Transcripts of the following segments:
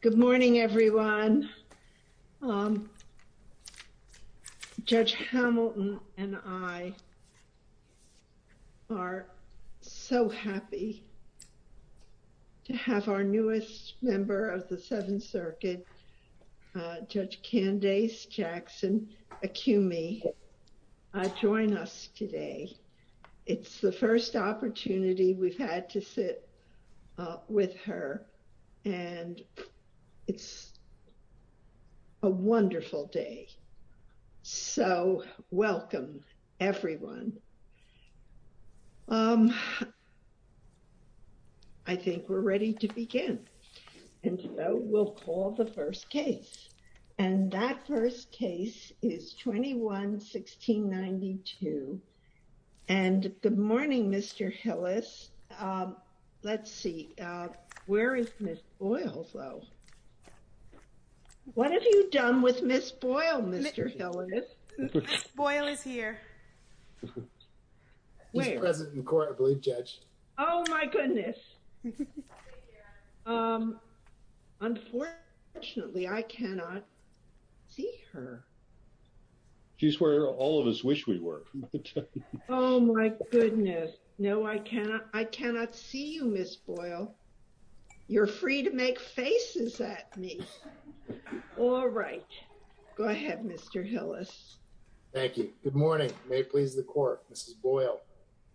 Good morning, everyone. Judge Hamilton and I are so happy to have our newest member of the Seventh Circuit, Judge Candace Jackson Acumi join us today. It's the first opportunity we've had to sit with her. And it's a wonderful day. So welcome, everyone. I think we're ready to begin. And so we'll call the first case. And that first case is 21-1692. And good morning, Mr. Hillis. Let's see. Where is Ms. Boyle, though? What have you done with Ms. Boyle, Mr. Hillis? Ms. Boyle is here. She's present in court, I believe, Judge. Oh, my goodness. Unfortunately, I cannot see her. She's where all of us wish we were. Oh, my goodness. No, I cannot see you, Ms. Boyle. You're free to make faces at me. All right. Go ahead, Mr. Hillis. Thank you. Good morning. May it please the Court, Ms. Boyle.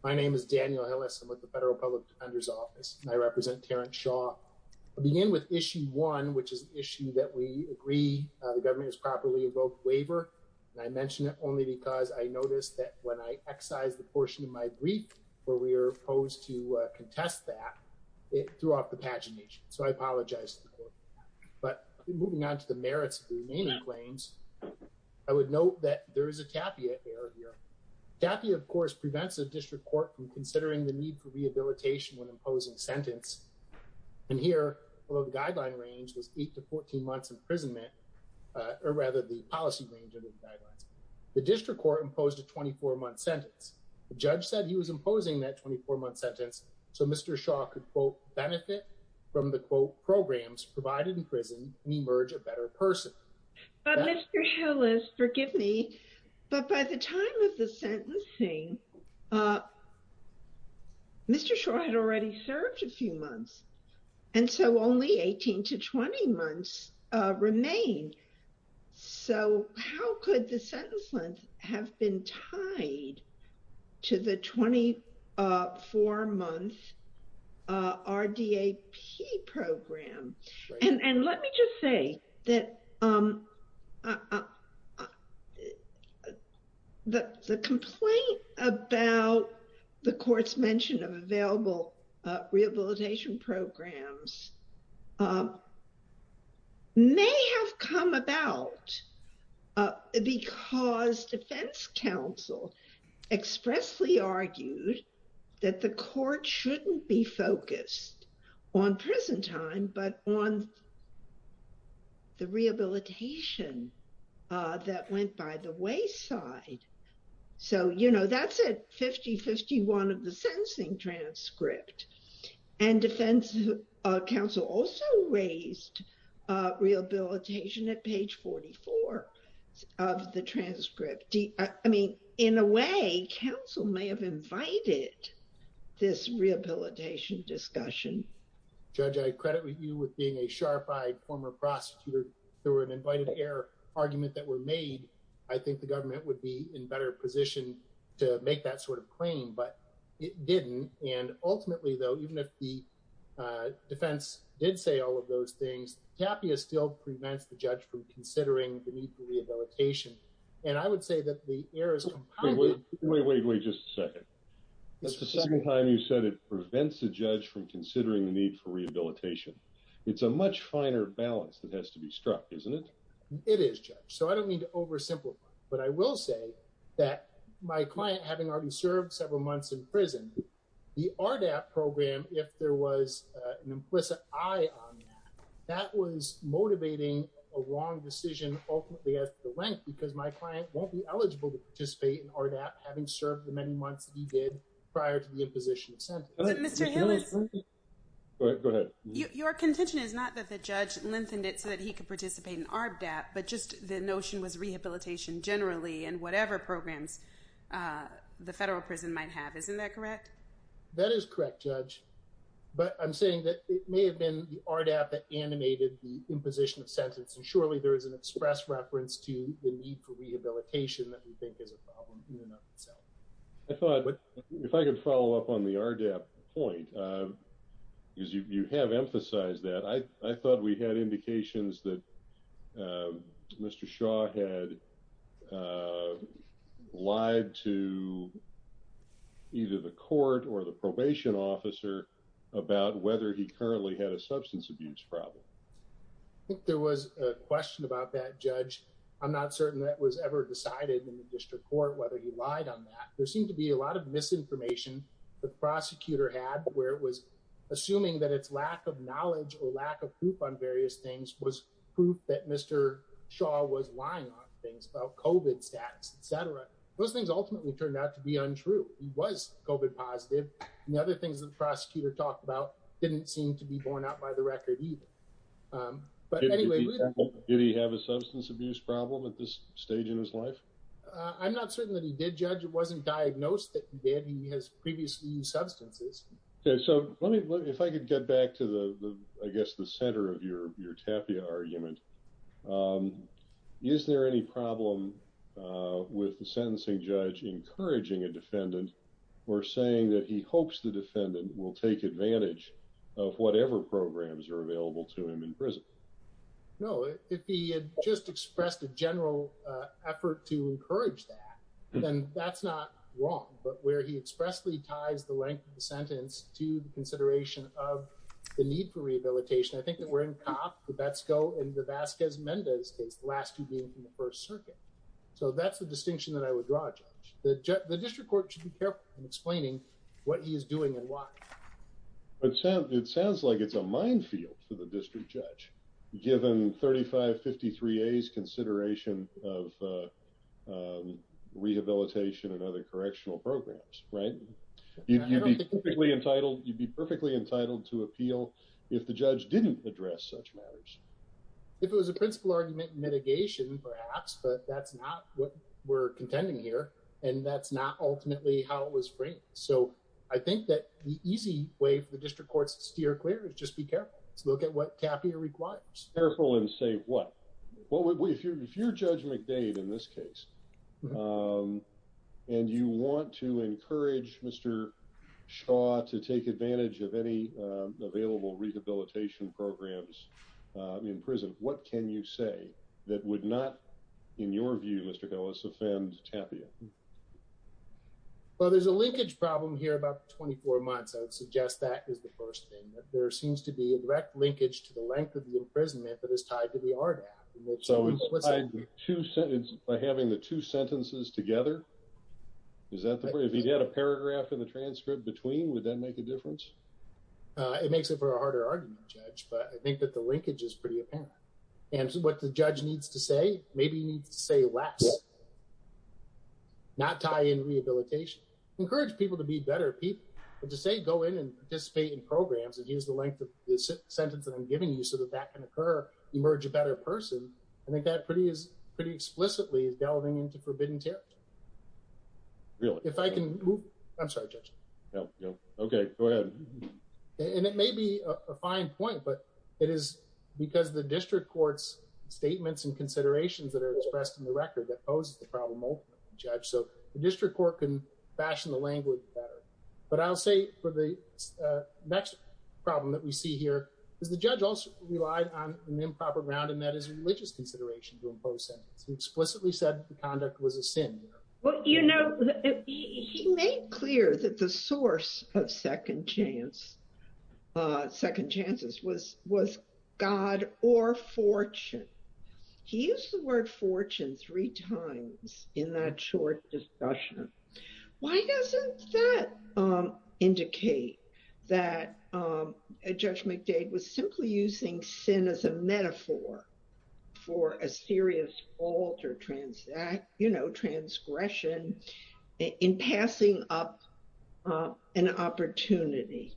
My name is Daniel Hillis. I'm with the Federal Public Defender's Office. I represent Terrence Shaw. I'll begin with Issue 1, which is an issue that we agree the government has properly evoked waiver. And I mention it only because I noticed that when I excised the portion of my brief where we were opposed to contest that, it threw off the pagination. So I apologize to the Court. But moving on to the merits of the remaining claims, I would note that there is a TAPIA error here. TAPIA, of course, prevents the District Court from considering the need for rehabilitation when imposing a sentence. And here, although the guideline range was eight to 14 months imprisonment, or rather the policy range of the guidelines, the District Court imposed a 24-month sentence. The judge said he was imposing that 24-month sentence so Mr. Shaw could, quote, benefit from the, quote, programs provided in prison and emerge a better person. But Mr. Hillis, forgive me, but by the time of the sentencing, Mr. Shaw had already served a few months, and so only 18 to 20 months remained. So how could the sentence length have been tied to the 24-month RDAP program? And let me just say that the complaint about the Court's mention of available rehabilitation programs may have come about because defense counsel expressly argued that the Court shouldn't be the rehabilitation that went by the wayside. So, you know, that's at 50-51 of the sentencing transcript. And defense counsel also raised rehabilitation at page 44 of the transcript. I mean, in a way, counsel may have invited this rehabilitation discussion. Judge, I credit you with being a sharp-eyed former prosecutor. There were an invited-er argument that were made. I think the government would be in better position to make that sort of claim, but it didn't. And ultimately, though, even if the defense did say all of those things, TAPIA still prevents the judge from considering the need for rehabilitation. And I would say that the errors— Wait, wait, wait, wait, just a second. That's the second time you said it prevents the judge from considering the need for rehabilitation. It's a much finer balance that has to be struck, isn't it? It is, Judge. So I don't mean to oversimplify, but I will say that my client, having already served several months in prison, the RDAP program, if there was an implicit eye on that, that was motivating a wrong decision ultimately at the length because my client won't be eligible to participate in RDAP having served the many months that he did prior to the imposition of sentence. But Mr. Hillis— Go ahead, go ahead. Your contention is not that the judge lengthened it so that he could participate in RDAP, but just the notion was rehabilitation generally and whatever programs the federal prison might have. Isn't that correct? That is correct, Judge. But I'm saying that it may have been the RDAP that animated the that we think is a problem in and of itself. I thought, if I could follow up on the RDAP point, because you have emphasized that, I thought we had indications that Mr. Shaw had lied to either the court or the probation officer about whether he currently had a substance abuse problem. I think there was a question about that, Judge. I'm not certain that was ever decided in the district court whether he lied on that. There seemed to be a lot of misinformation the prosecutor had where it was assuming that its lack of knowledge or lack of proof on various things was proof that Mr. Shaw was lying on things about COVID status, et cetera. Those things ultimately turned out to be untrue. He was COVID positive. And the other things that the prosecutor talked about didn't seem to be borne out by the record either. But anyway... Did he have a substance abuse problem at this stage in his life? I'm not certain that he did, Judge. It wasn't diagnosed that he did. He has previously used substances. Okay. So let me, if I could get back to the, I guess, the center of your TAPIA argument. Is there any problem with the sentencing judge encouraging a defendant or saying that he hopes the defendant will take advantage of whatever programs are available to him in prison? No. If he had just expressed a general effort to encourage that, then that's not wrong. But where he expressly ties the length of the sentence to the consideration of the need for rehabilitation, I think that we're in Cobb, Hubecko, and DeVasquez-Mendez case, the last two being from the First Circuit. So that's the distinction that I would draw, Judge. The district court should be careful in explaining what he is doing and why. It sounds like it's a minefield for the district judge, given 3553A's consideration of rehabilitation and other correctional programs, right? You'd be perfectly entitled to appeal if the judge didn't address such matters. If it was a principle argument, mitigation perhaps, but that's not what we're contending here, and that's not ultimately how it was framed. So I think that the easy way for the district court to steer clear is just be careful. Let's look at what TAFIA requires. Careful and say what? If you're Judge McDade in this case, and you want to encourage Mr. Shaw to take advantage of any available rehabilitation programs in prison, what can you say that would not, in TAFIA? Well, there's a linkage problem here about 24 months. I would suggest that is the first thing, that there seems to be a direct linkage to the length of the imprisonment that is tied to the RDAP. So it's tied by having the two sentences together? Is that the point? If you had a paragraph in the transcript between, would that make a difference? It makes it for a harder argument, Judge, but I think that the linkage is pretty apparent. And what the judge needs to say, maybe he needs to say less. Not tie in rehabilitation. Encourage people to be better people, but to say, go in and participate in programs and use the length of the sentence that I'm giving you so that that can occur, emerge a better person. I think that pretty is pretty explicitly is delving into forbidden territory. Really? If I can move, I'm sorry, Judge. No, no. Okay, go ahead. And it may be a fine point, but it is because the district court's statements and considerations that are expressed in the record that poses the problem ultimately, Judge. So the district court can fashion the language better. But I'll say for the next problem that we see here is the judge also relied on an improper ground, and that is religious consideration to impose sentences. He explicitly said the conduct was a sin. Well, you know, he made clear that the source of second chance, second chances was God or fortune. He used the word fortune three times in that short discussion. Why doesn't that indicate that Judge McDade was simply using sin as a metaphor for a serious fault or transgression in passing up an opportunity?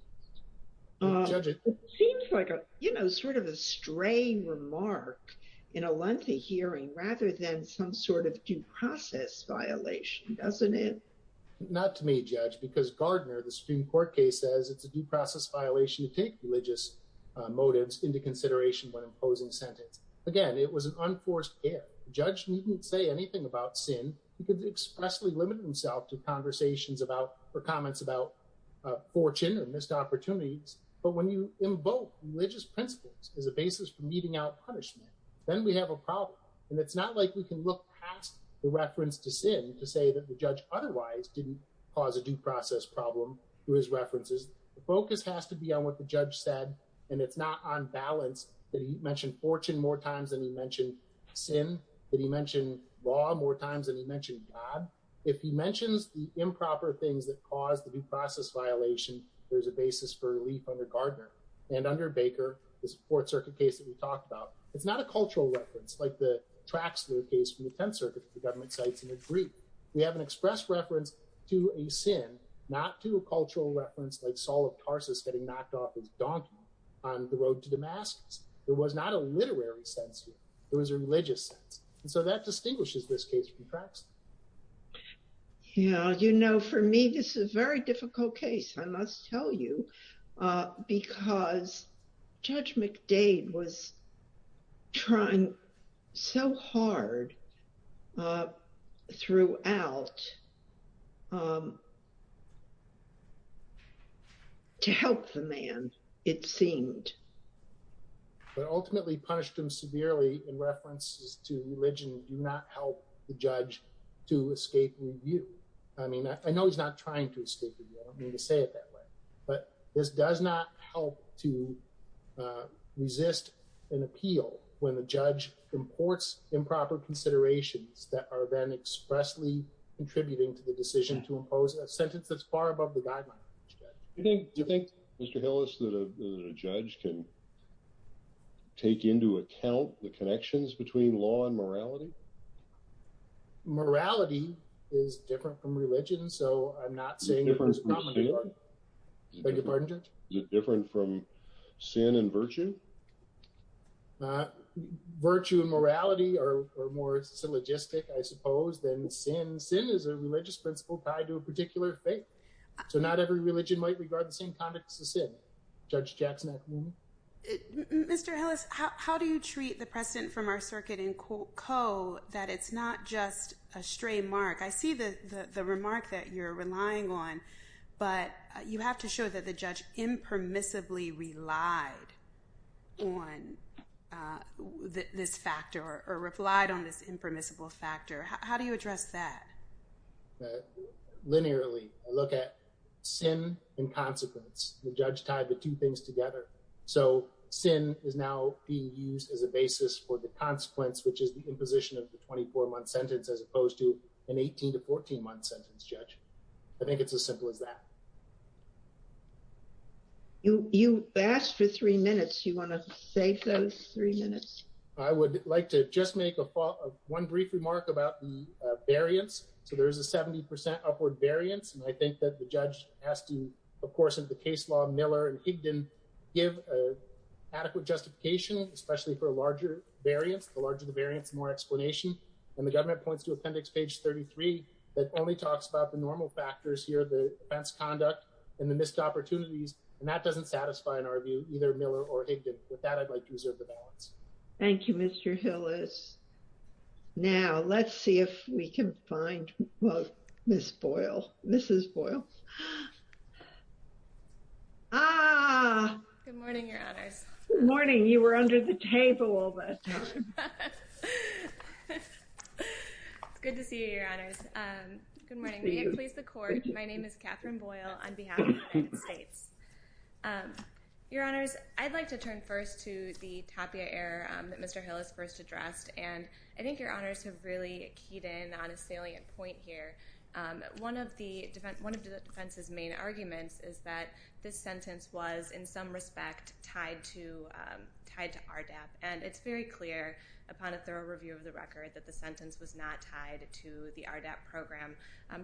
Judge, it seems like, you know, sort of a strange remark in a lengthy hearing rather than some sort of due process violation, doesn't it? Not to me, Judge, because Gardner, the Supreme Court case says it's a due process violation to take religious motives into consideration when imposing sentence. Again, it was an unforced error. The judge didn't say anything about sin. He could expressly limit himself to conversations about or comments about fortune or opportunities, but when you invoke religious principles as a basis for meting out punishment, then we have a problem, and it's not like we can look past the reference to sin to say that the judge otherwise didn't cause a due process problem through his references. The focus has to be on what the judge said, and it's not on balance that he mentioned fortune more times than he mentioned sin, that he mentioned law more times than he mentioned God. If he mentions the improper things that caused the due process violation, there's a basis for relief under Gardner and under Baker, this Fourth Circuit case that we talked about. It's not a cultural reference like the Traxler case from the Tenth Circuit that the government cites in the brief. We have an express reference to a sin, not to a cultural reference like Saul of Tarsus getting knocked off his donkey on the road to Damascus. There was not a literary sense here. Yeah, you know, for me, this is a very difficult case, I must tell you, because Judge McDade was trying so hard throughout to help the man, it seemed. But ultimately punished him severely in references to religion do not help the judge to escape review. I mean, I know he's not trying to escape review. I don't mean to say it that way, but this does not help to resist an appeal when the judge imports improper considerations that are then expressly contributing to the decision to impose a sentence that's far above the guideline. Do you think, Mr. Hillis, that a judge can take into account the connections between law and morality? Morality is different from religion. So I'm not saying. Thank you, Judge. Is it different from sin and virtue? Virtue and morality are more syllogistic, I suppose, than sin. Sin is a religious principle tied to a particular faith. So not every religion might regard the same context as sin. Judge Jackson. Mr. Hillis, how do you treat the precedent from our circuit in Coe that it's not just a stray mark? I see the remark that you're relying on, but you have to show that the judge impermissibly relied on this factor or replied on this impermissible factor. How do you address that? Linearly, I look at sin and consequence. The judge tied the two things together. So sin is now being used as a basis for the consequence, which is the imposition of the 24-month sentence, as opposed to an 18 to 14-month sentence, Judge. I think it's as simple as that. You asked for three minutes. Do you want to save those three minutes? I would like to just make one brief remark about the variance. So there is a 70% upward variance. I think that the judge has to, of course, in the case law, Miller and Higdon give adequate justification, especially for a larger variance. The larger the variance, the more explanation. And the government points to appendix page 33 that only talks about the normal factors here, the offense conduct and the missed opportunities. And that doesn't satisfy, in our view, either Miller or Higdon. With that, I'd like to reserve the balance. Thank you, Mr. Hillis. Now, let's see if we can find, well, Ms. Boyle. Mrs. Boyle. Ah! Good morning, Your Honors. Good morning. You were under the table all that time. It's good to see you, Your Honors. Good morning. May it please the Court, my name is Catherine Boyle on behalf of the United States. Your Honors, I'd like to turn first to the Tapia error that Mr. Hillis first addressed. And I think Your Honors have really keyed in on a salient point here. One of the defense's main arguments is that this sentence was, in some respect, tied to RDAP. And it's very clear, upon a thorough review of the record, that the sentence was not tied to the RDAP program.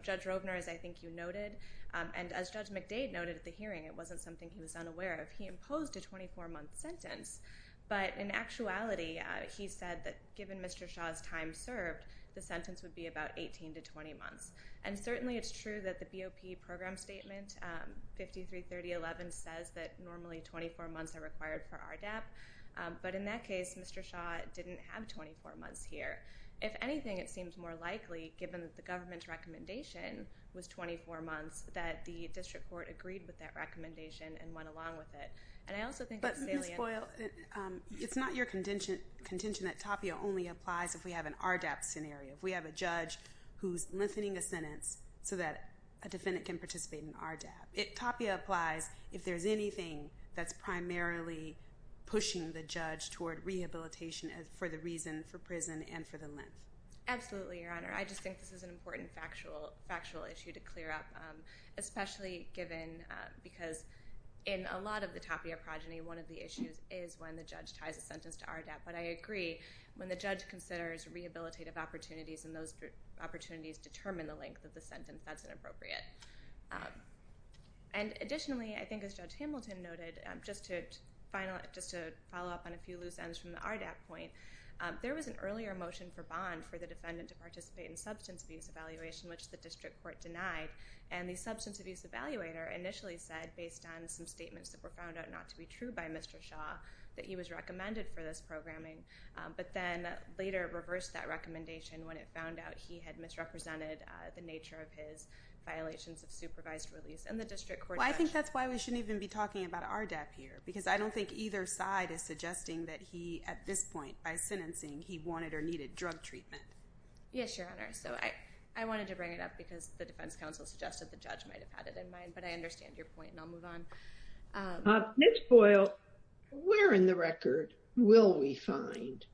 Judge Robner, as I think you noted, and as Judge McDade noted at the hearing, it wasn't something he was unaware of. He imposed a 24-month sentence. But in actuality, he said that given Mr. Shaw's time served, the sentence would be about 18 to 20 months. And certainly, it's true that the BOP program statement, 533011, says that normally 24 months are required for RDAP. But in that case, Mr. Shaw didn't have 24 months here. If anything, it seems more likely, given that the government's recommendation was 24 months, that the district court agreed with that recommendation and went along with it. And I also think it's salient. Ms. Boyle, it's not your contention that Tapia only applies if we have an RDAP scenario. We have a judge who's lengthening a sentence so that a defendant can participate in RDAP. Tapia applies if there's anything that's primarily pushing the judge toward rehabilitation for the reason for prison and for the length. Absolutely, Your Honor. I just think this is an important factual issue to clear up, especially given because in a lot of the Tapia progeny, one of the issues is when the judge ties a sentence to RDAP. But I agree, when the judge considers rehabilitative opportunities and those opportunities determine the length of the sentence, that's inappropriate. And additionally, I think as Judge Hamilton noted, just to follow up on a few loose ends from the RDAP point, there was an earlier motion for bond for the defendant to participate in substance abuse evaluation, which the district court denied. And the substance abuse evaluator initially said, based on some statements that were found out not to be true by Mr. Shaw, that he was recommended for this programming. But then later reversed that recommendation when it found out he had misrepresented the nature of his violations of supervised release. And the district court judge- Well, I think that's why we shouldn't even be talking about RDAP here, because I don't think either side is suggesting that he, at this point, by sentencing, he wanted or needed drug treatment. Yes, Your Honor. So I wanted to bring it up because the defense counsel suggested the judge might have had it in mind. But I understand your point and I'll move on. Ms. Boyle, where in the record will we find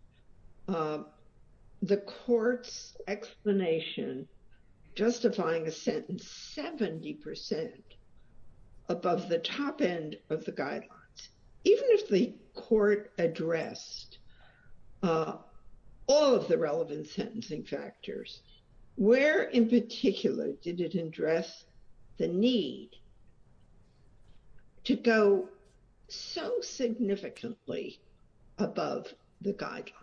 the court's explanation justifying a sentence 70% above the top end of the guidelines? Even if the court addressed all of the relevant sentencing factors, where in particular did it address the need to go so significantly above the guidelines?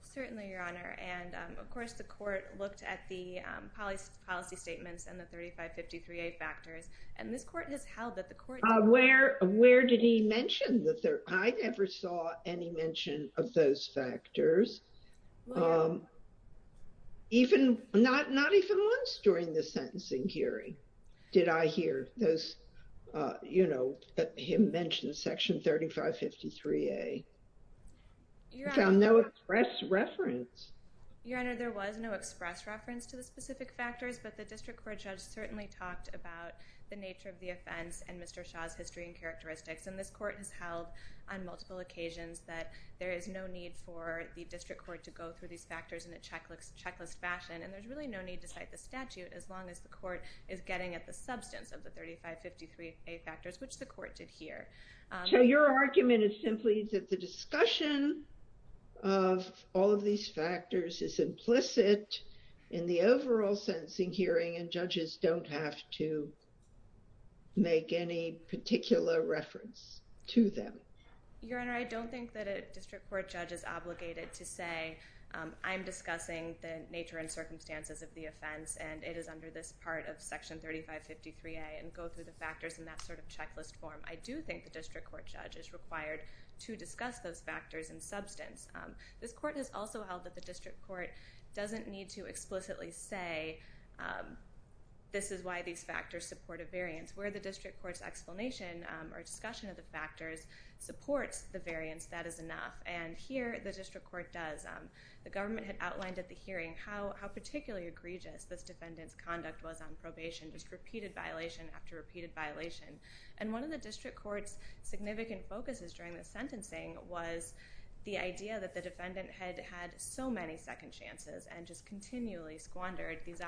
Certainly, Your Honor. And of course, the court looked at the policy statements and the 3553A factors. And this court has held that the court- Where did he mention the third? I never saw any mention of those factors. Well- Even, not even once during the sentencing hearing did I hear those, you know, that he mentioned Section 3553A. I found no express reference. Your Honor, there was no express reference to the specific factors, but the district court judge certainly talked about the nature of the offense and Mr. Shaw's history and characteristics. And this court has held on multiple occasions that there is no need for the district court to go through these factors in a checklist fashion. And there's really no need to cite the statute as long as the court is getting at the substance of the 3553A factors, which the court did here. So your argument is simply that the discussion of all of these factors is implicit in the to them. Your Honor, I don't think that a district court judge is obligated to say, I'm discussing the nature and circumstances of the offense and it is under this part of Section 3553A and go through the factors in that sort of checklist form. I do think the district court judge is required to discuss those factors in substance. This court has also held that the district court doesn't need to explicitly say, this is why these factors support a variance. Where the district court's explanation or discussion of the factors supports the variance, that is enough. And here, the district court does. The government had outlined at the hearing how particularly egregious this defendant's conduct was on probation, just repeated violation after repeated violation. And one of the district court's significant focuses during the sentencing was the idea that the defendant had had so many second chances and just continually squandered these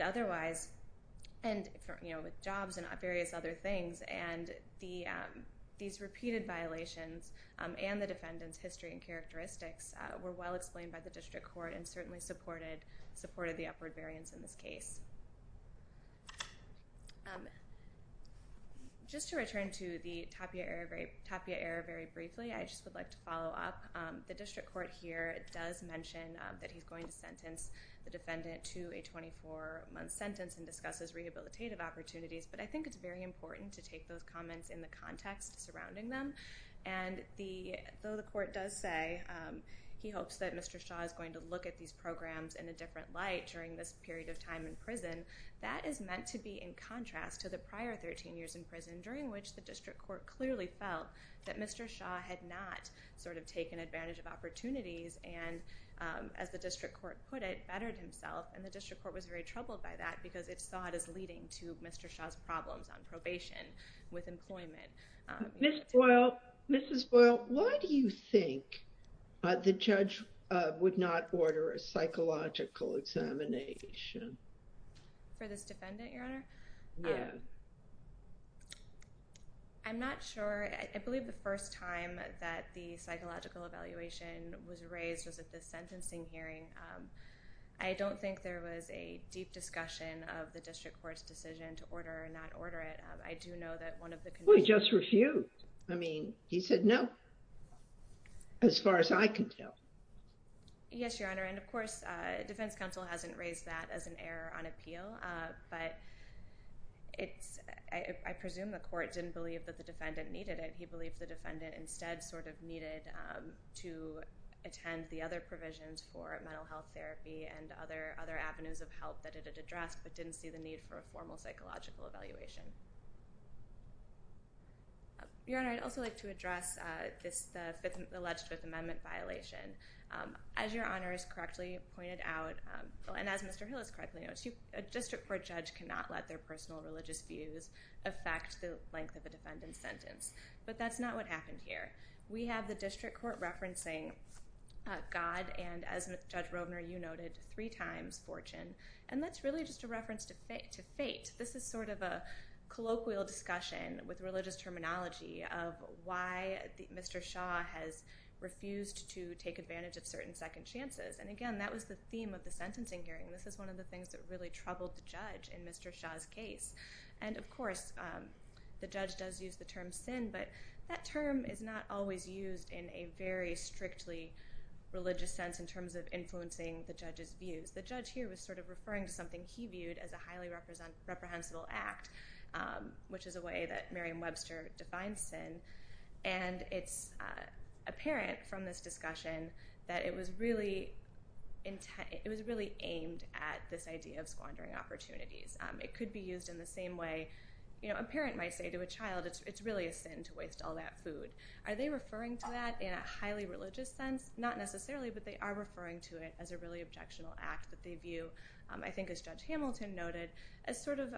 otherwise, and with jobs and various other things, and these repeated violations and the defendant's history and characteristics were well explained by the district court and certainly supported the upward variance in this case. Just to return to the Tapia era very briefly, I just would like to follow up. The district court here does mention that he's going to sentence the defendant to a 24-month sentence and discusses rehabilitative opportunities. But I think it's very important to take those comments in the context surrounding them. And though the court does say he hopes that Mr. Shaw is going to look at these programs in a different light during this period of time in prison, that is meant to be in contrast to the prior 13 years in prison, during which the district court clearly felt that Mr. Shaw had not taken advantage of opportunities and, as the district court put it, bettered himself. And the district court was very troubled by that because it saw it as leading to Mr. Shaw's problems on probation with employment. Ms. Boyle, why do you think the judge would not order a psychological examination? For this defendant, Your Honor? Yeah. I'm not sure. I believe the first time that the psychological evaluation was raised was at the sentencing hearing. I don't think there was a deep discussion of the district court's decision to order or not order it. I do know that one of the— Well, he just refused. I mean, he said no, as far as I can tell. Yes, Your Honor. And of course, defense counsel hasn't raised that as an error on appeal. But I presume the court didn't believe that the defendant needed it. He believed the defendant instead sort of needed to attend the other provisions for mental health therapy and other avenues of help that it had addressed, but didn't see the need for a formal psychological evaluation. Your Honor, I'd also like to address this alleged Fifth Amendment violation. As Your Honor has correctly pointed out, and as Mr. Hill has correctly noted, a district court judge cannot let their personal religious views affect the length of a defendant's sentence. But that's not what happened here. We have the district court referencing God and, as Judge Rovner, you noted, three times fortune. And that's really just a reference to fate. This is sort of a colloquial discussion with religious terminology of why Mr. Shaw has refused to take advantage of certain second chances. And again, that was the theme of the sentencing hearing. This is one of the things that really troubled the judge in Mr. Shaw's case. And of course, the judge does use the term sin, but that term is not always used in a very strictly religious sense in terms of influencing the judge's views. The judge here was sort of referring to something he viewed as a highly reprehensible act, which is a way that Merriam-Webster defines sin. And it's apparent from this discussion that it was really aimed at this idea of squandering opportunities. It could be used in the same way a parent might say to a child, it's really a sin to waste all that food. Are they referring to that in a highly religious sense? Not necessarily, but they are referring to it as a really objectionable act that they view, I think as Judge Hamilton noted, as sort of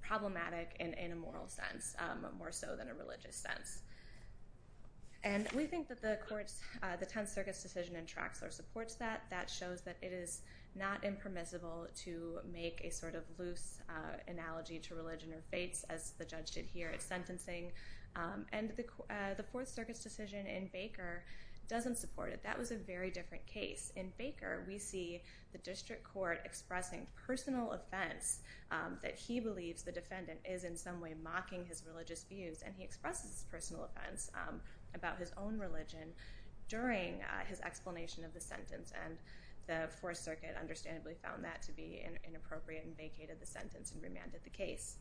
problematic in a moral sense, more so than a religious sense. And we think that the court's, the Tenth Circuit's decision in Traxler supports that. That shows that it is not impermissible to make a sort of loose analogy to religion or faiths, as the judge did here at sentencing. And the Fourth Circuit's decision in Baker doesn't support it. That was a very different case. In Baker, we see the district court expressing personal offense that he believes the defendant is in some way mocking his religious views, and he expresses his personal offense about his own religion during his explanation of the sentence. The Fourth Circuit understandably found that to be inappropriate and vacated the sentence and remanded the case.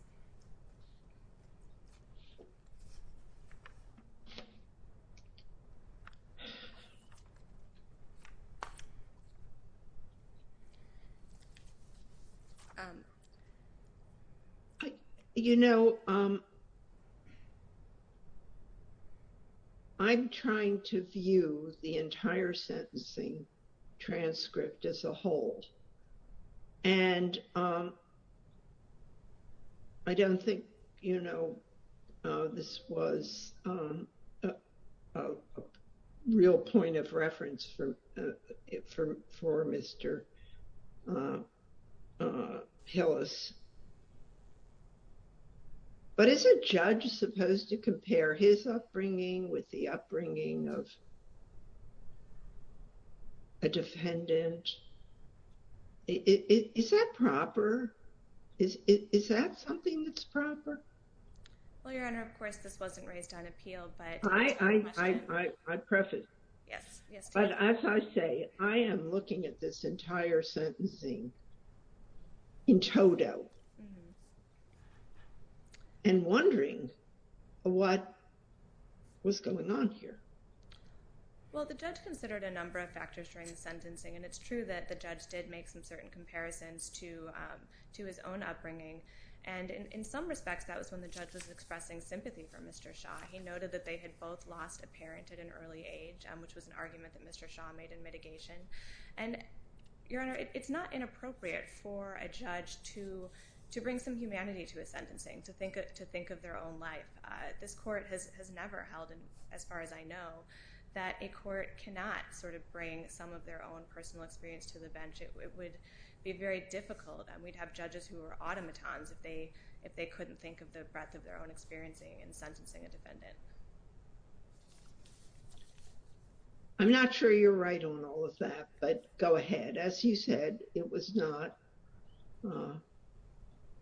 You know, I'm trying to view the entire sentencing transcript as a whole, and I don't think, you know, this was a real point of reference for Mr. Hillis. But is a judge supposed to compare his upbringing with the upbringing of a defendant? Is that proper? Is that something that's proper? Well, Your Honor, of course, this wasn't raised on appeal, but— I preface. Yes, yes. But as I say, I am looking at this entire sentencing in toto and wondering what was going on here. Well, the judge considered a number of factors during the sentencing, and it's true that the judge did make some certain comparisons to his own upbringing, and in some respects, that was when the judge was expressing sympathy for Mr. Shah. He noted that they had both lost a parent at an early age, which was an argument that Mr. Shah made in mitigation. And, Your Honor, it's not inappropriate for a judge to bring some humanity to a sentencing, to think of their own life. This Court has never held, as far as I know, that a court cannot sort of bring some of their own personal experience to the bench. It would be very difficult, and we'd have judges who were automatons if they couldn't think of the breadth of their own experiencing in sentencing a defendant. I'm not sure you're right on all of that, but go ahead. As you said, it was not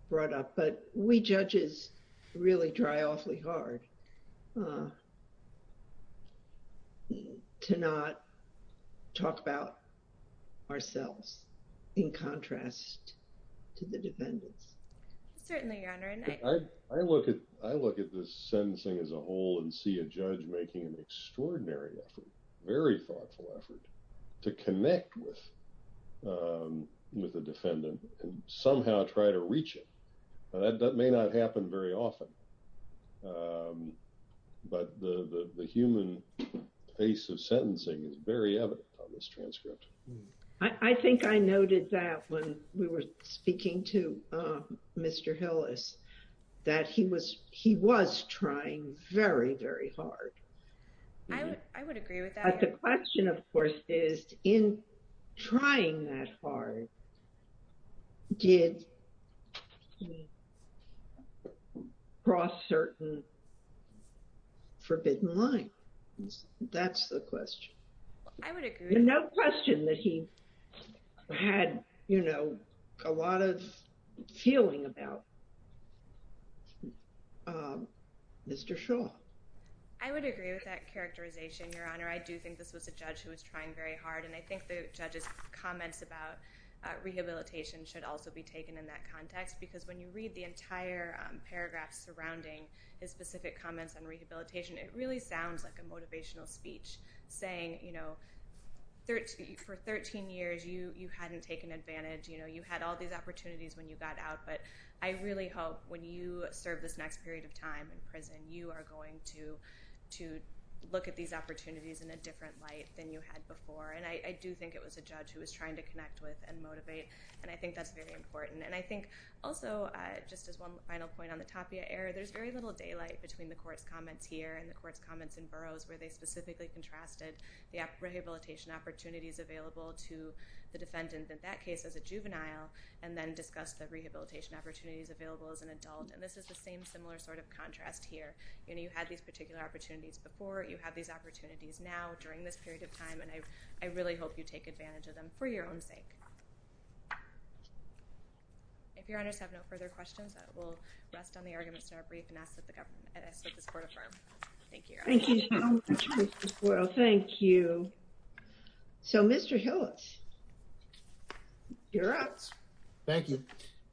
brought up, but we judges really try awfully hard to not talk about ourselves in contrast to the defendants. Certainly, Your Honor. I look at this sentencing as a whole and see a judge making an extraordinary effort, very thoughtful effort, to connect with a defendant and somehow try to reach it. That may not happen very often, but the human face of sentencing is very evident on this transcript. I think I noted that when we were speaking to Mr. Hillis, that he was trying very, very hard. I would agree with that. The question, of course, is in trying that hard, did he cross certain forbidden lines? That's the question. I would agree. No question that he had, you know, a lot of feeling about Mr. Shaw. I would agree with that characterization, Your Honor. I do think this was a judge who was trying very hard, and I think the judge's comments about rehabilitation should also be taken in that context, because when you read the entire paragraph surrounding his specific comments on rehabilitation, it really sounds like a motivational speech saying, you know, for 13 years, you hadn't taken advantage. You had all these opportunities when you got out, but I really hope when you serve this next period of time in prison, you are going to look at these opportunities in a different light than you had before, and I do think it was a judge who was trying to connect with and motivate, and I think that's very important. And I think also, just as one final point on the Tapia era, there's very little daylight between the court's comments here and the court's comments in Burroughs, where they specifically contrasted the rehabilitation opportunities available to the defendant in that case as a juvenile, and then discussed the rehabilitation opportunities available as an adult. And this is the same similar sort of contrast here. You know, you had these particular opportunities before, you have these opportunities now during this period of time, and I really hope you take advantage of them for your own sake. If your honors have no further questions, I will rest on the arguments that are brief and ask that the government, ask that this court affirm. Thank you. Thank you so much, Ms. Boyle. Thank you. So Mr. Hillis, you're up. Thank you.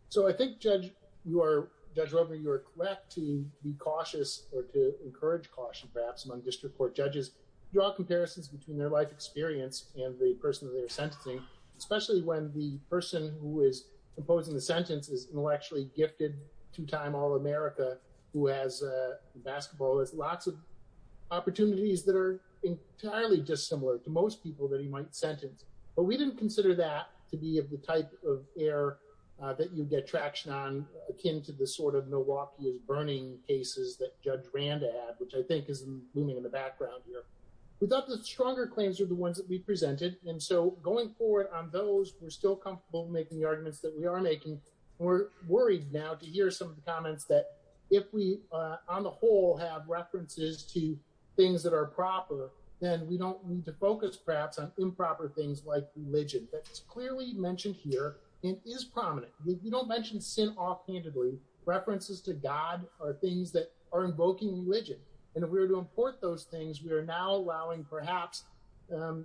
So I think, Judge Roper, you are correct to be cautious or to encourage caution, perhaps, among district court judges. Draw comparisons between their life experience and the person that they are sentencing, especially when the person who is imposing the sentence is intellectually gifted, two-time All-America, who has basketball, has lots of opportunities that are entirely dissimilar to most people that he might sentence. But we didn't consider that to be of the type of error that you get traction on, akin to the sort of Milwaukee is burning cases that Judge Randa had, which I think is looming in the background here. We thought the stronger claims are the ones that we presented. And so going forward on those, we're still comfortable making the arguments that we are making. We're worried now to hear some of the comments that if we, on the whole, have references to things that are proper, then we don't need to focus, perhaps, on improper things like religion. That's clearly mentioned here and is prominent. We don't mention sin offhandedly. References to God are things that are invoking religion. And if we were to import those things, we are now allowing, perhaps,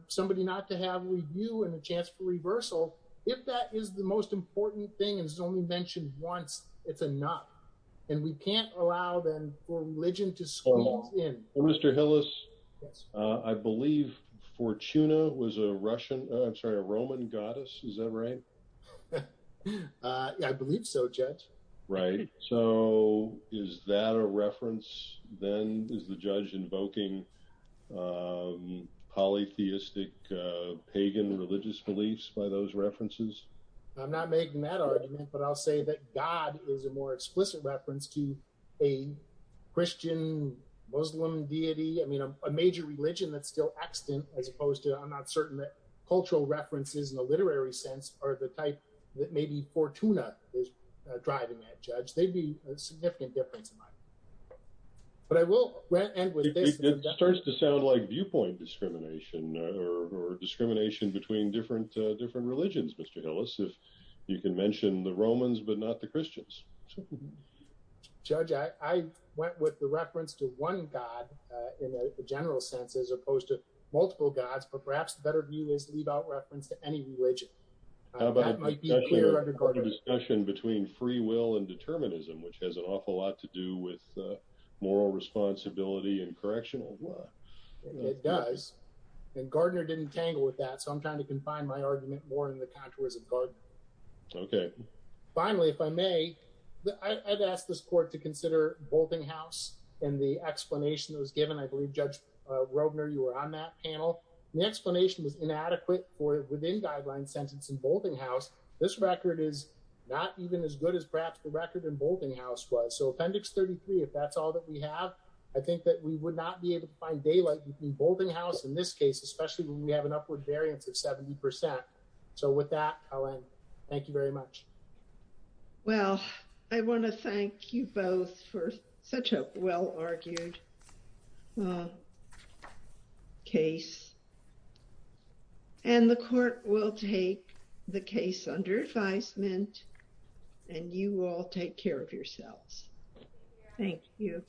somebody not to have review and a chance for reversal. If that is the most important thing and it's only mentioned once, it's enough. And we can't allow, then, for religion to squeeze in. Well, Mr. Hillis, I believe Fortuna was a Roman goddess. Is that right? I believe so, Judge. Right. So is that a reference, then, is the judge invoking polytheistic, pagan religious beliefs by those references? I'm not making that argument. But I'll say that God is a more explicit reference to a Christian, Muslim deity. I mean, a major religion that's still extant, as opposed to, I'm not certain that cultural references in the literary sense are the type that maybe Fortuna is driving at, Judge. They'd be a significant difference in mind. But I will end with this. It starts to sound like viewpoint discrimination or discrimination between different religions, Mr. Hillis, if you can mention the Romans, but not the Christians. Judge, I went with the reference to one God in a general sense, as opposed to multiple gods. But perhaps the better view is to leave out reference to any religion. How about a discussion between free will and determinism, which has an awful lot to do with moral responsibility and correctional law. It does. And Gardner didn't tangle with that. I'm trying to confine my argument more in the contours of Gardner. Okay. Finally, if I may, I'd ask this court to consider Boltinghouse and the explanation that was given. I believe, Judge Robner, you were on that panel. The explanation was inadequate for within guideline sentence in Boltinghouse. This record is not even as good as Bradford record in Boltinghouse was. So Appendix 33, if that's all that we have, I think that we would not be able to find daylight between Boltinghouse, in this case, especially when we have an upward variance of 70%. So with that, Helen, thank you very much. Well, I want to thank you both for such a well-argued case. And the court will take the case under advisement, and you all take care of yourselves. Thank you.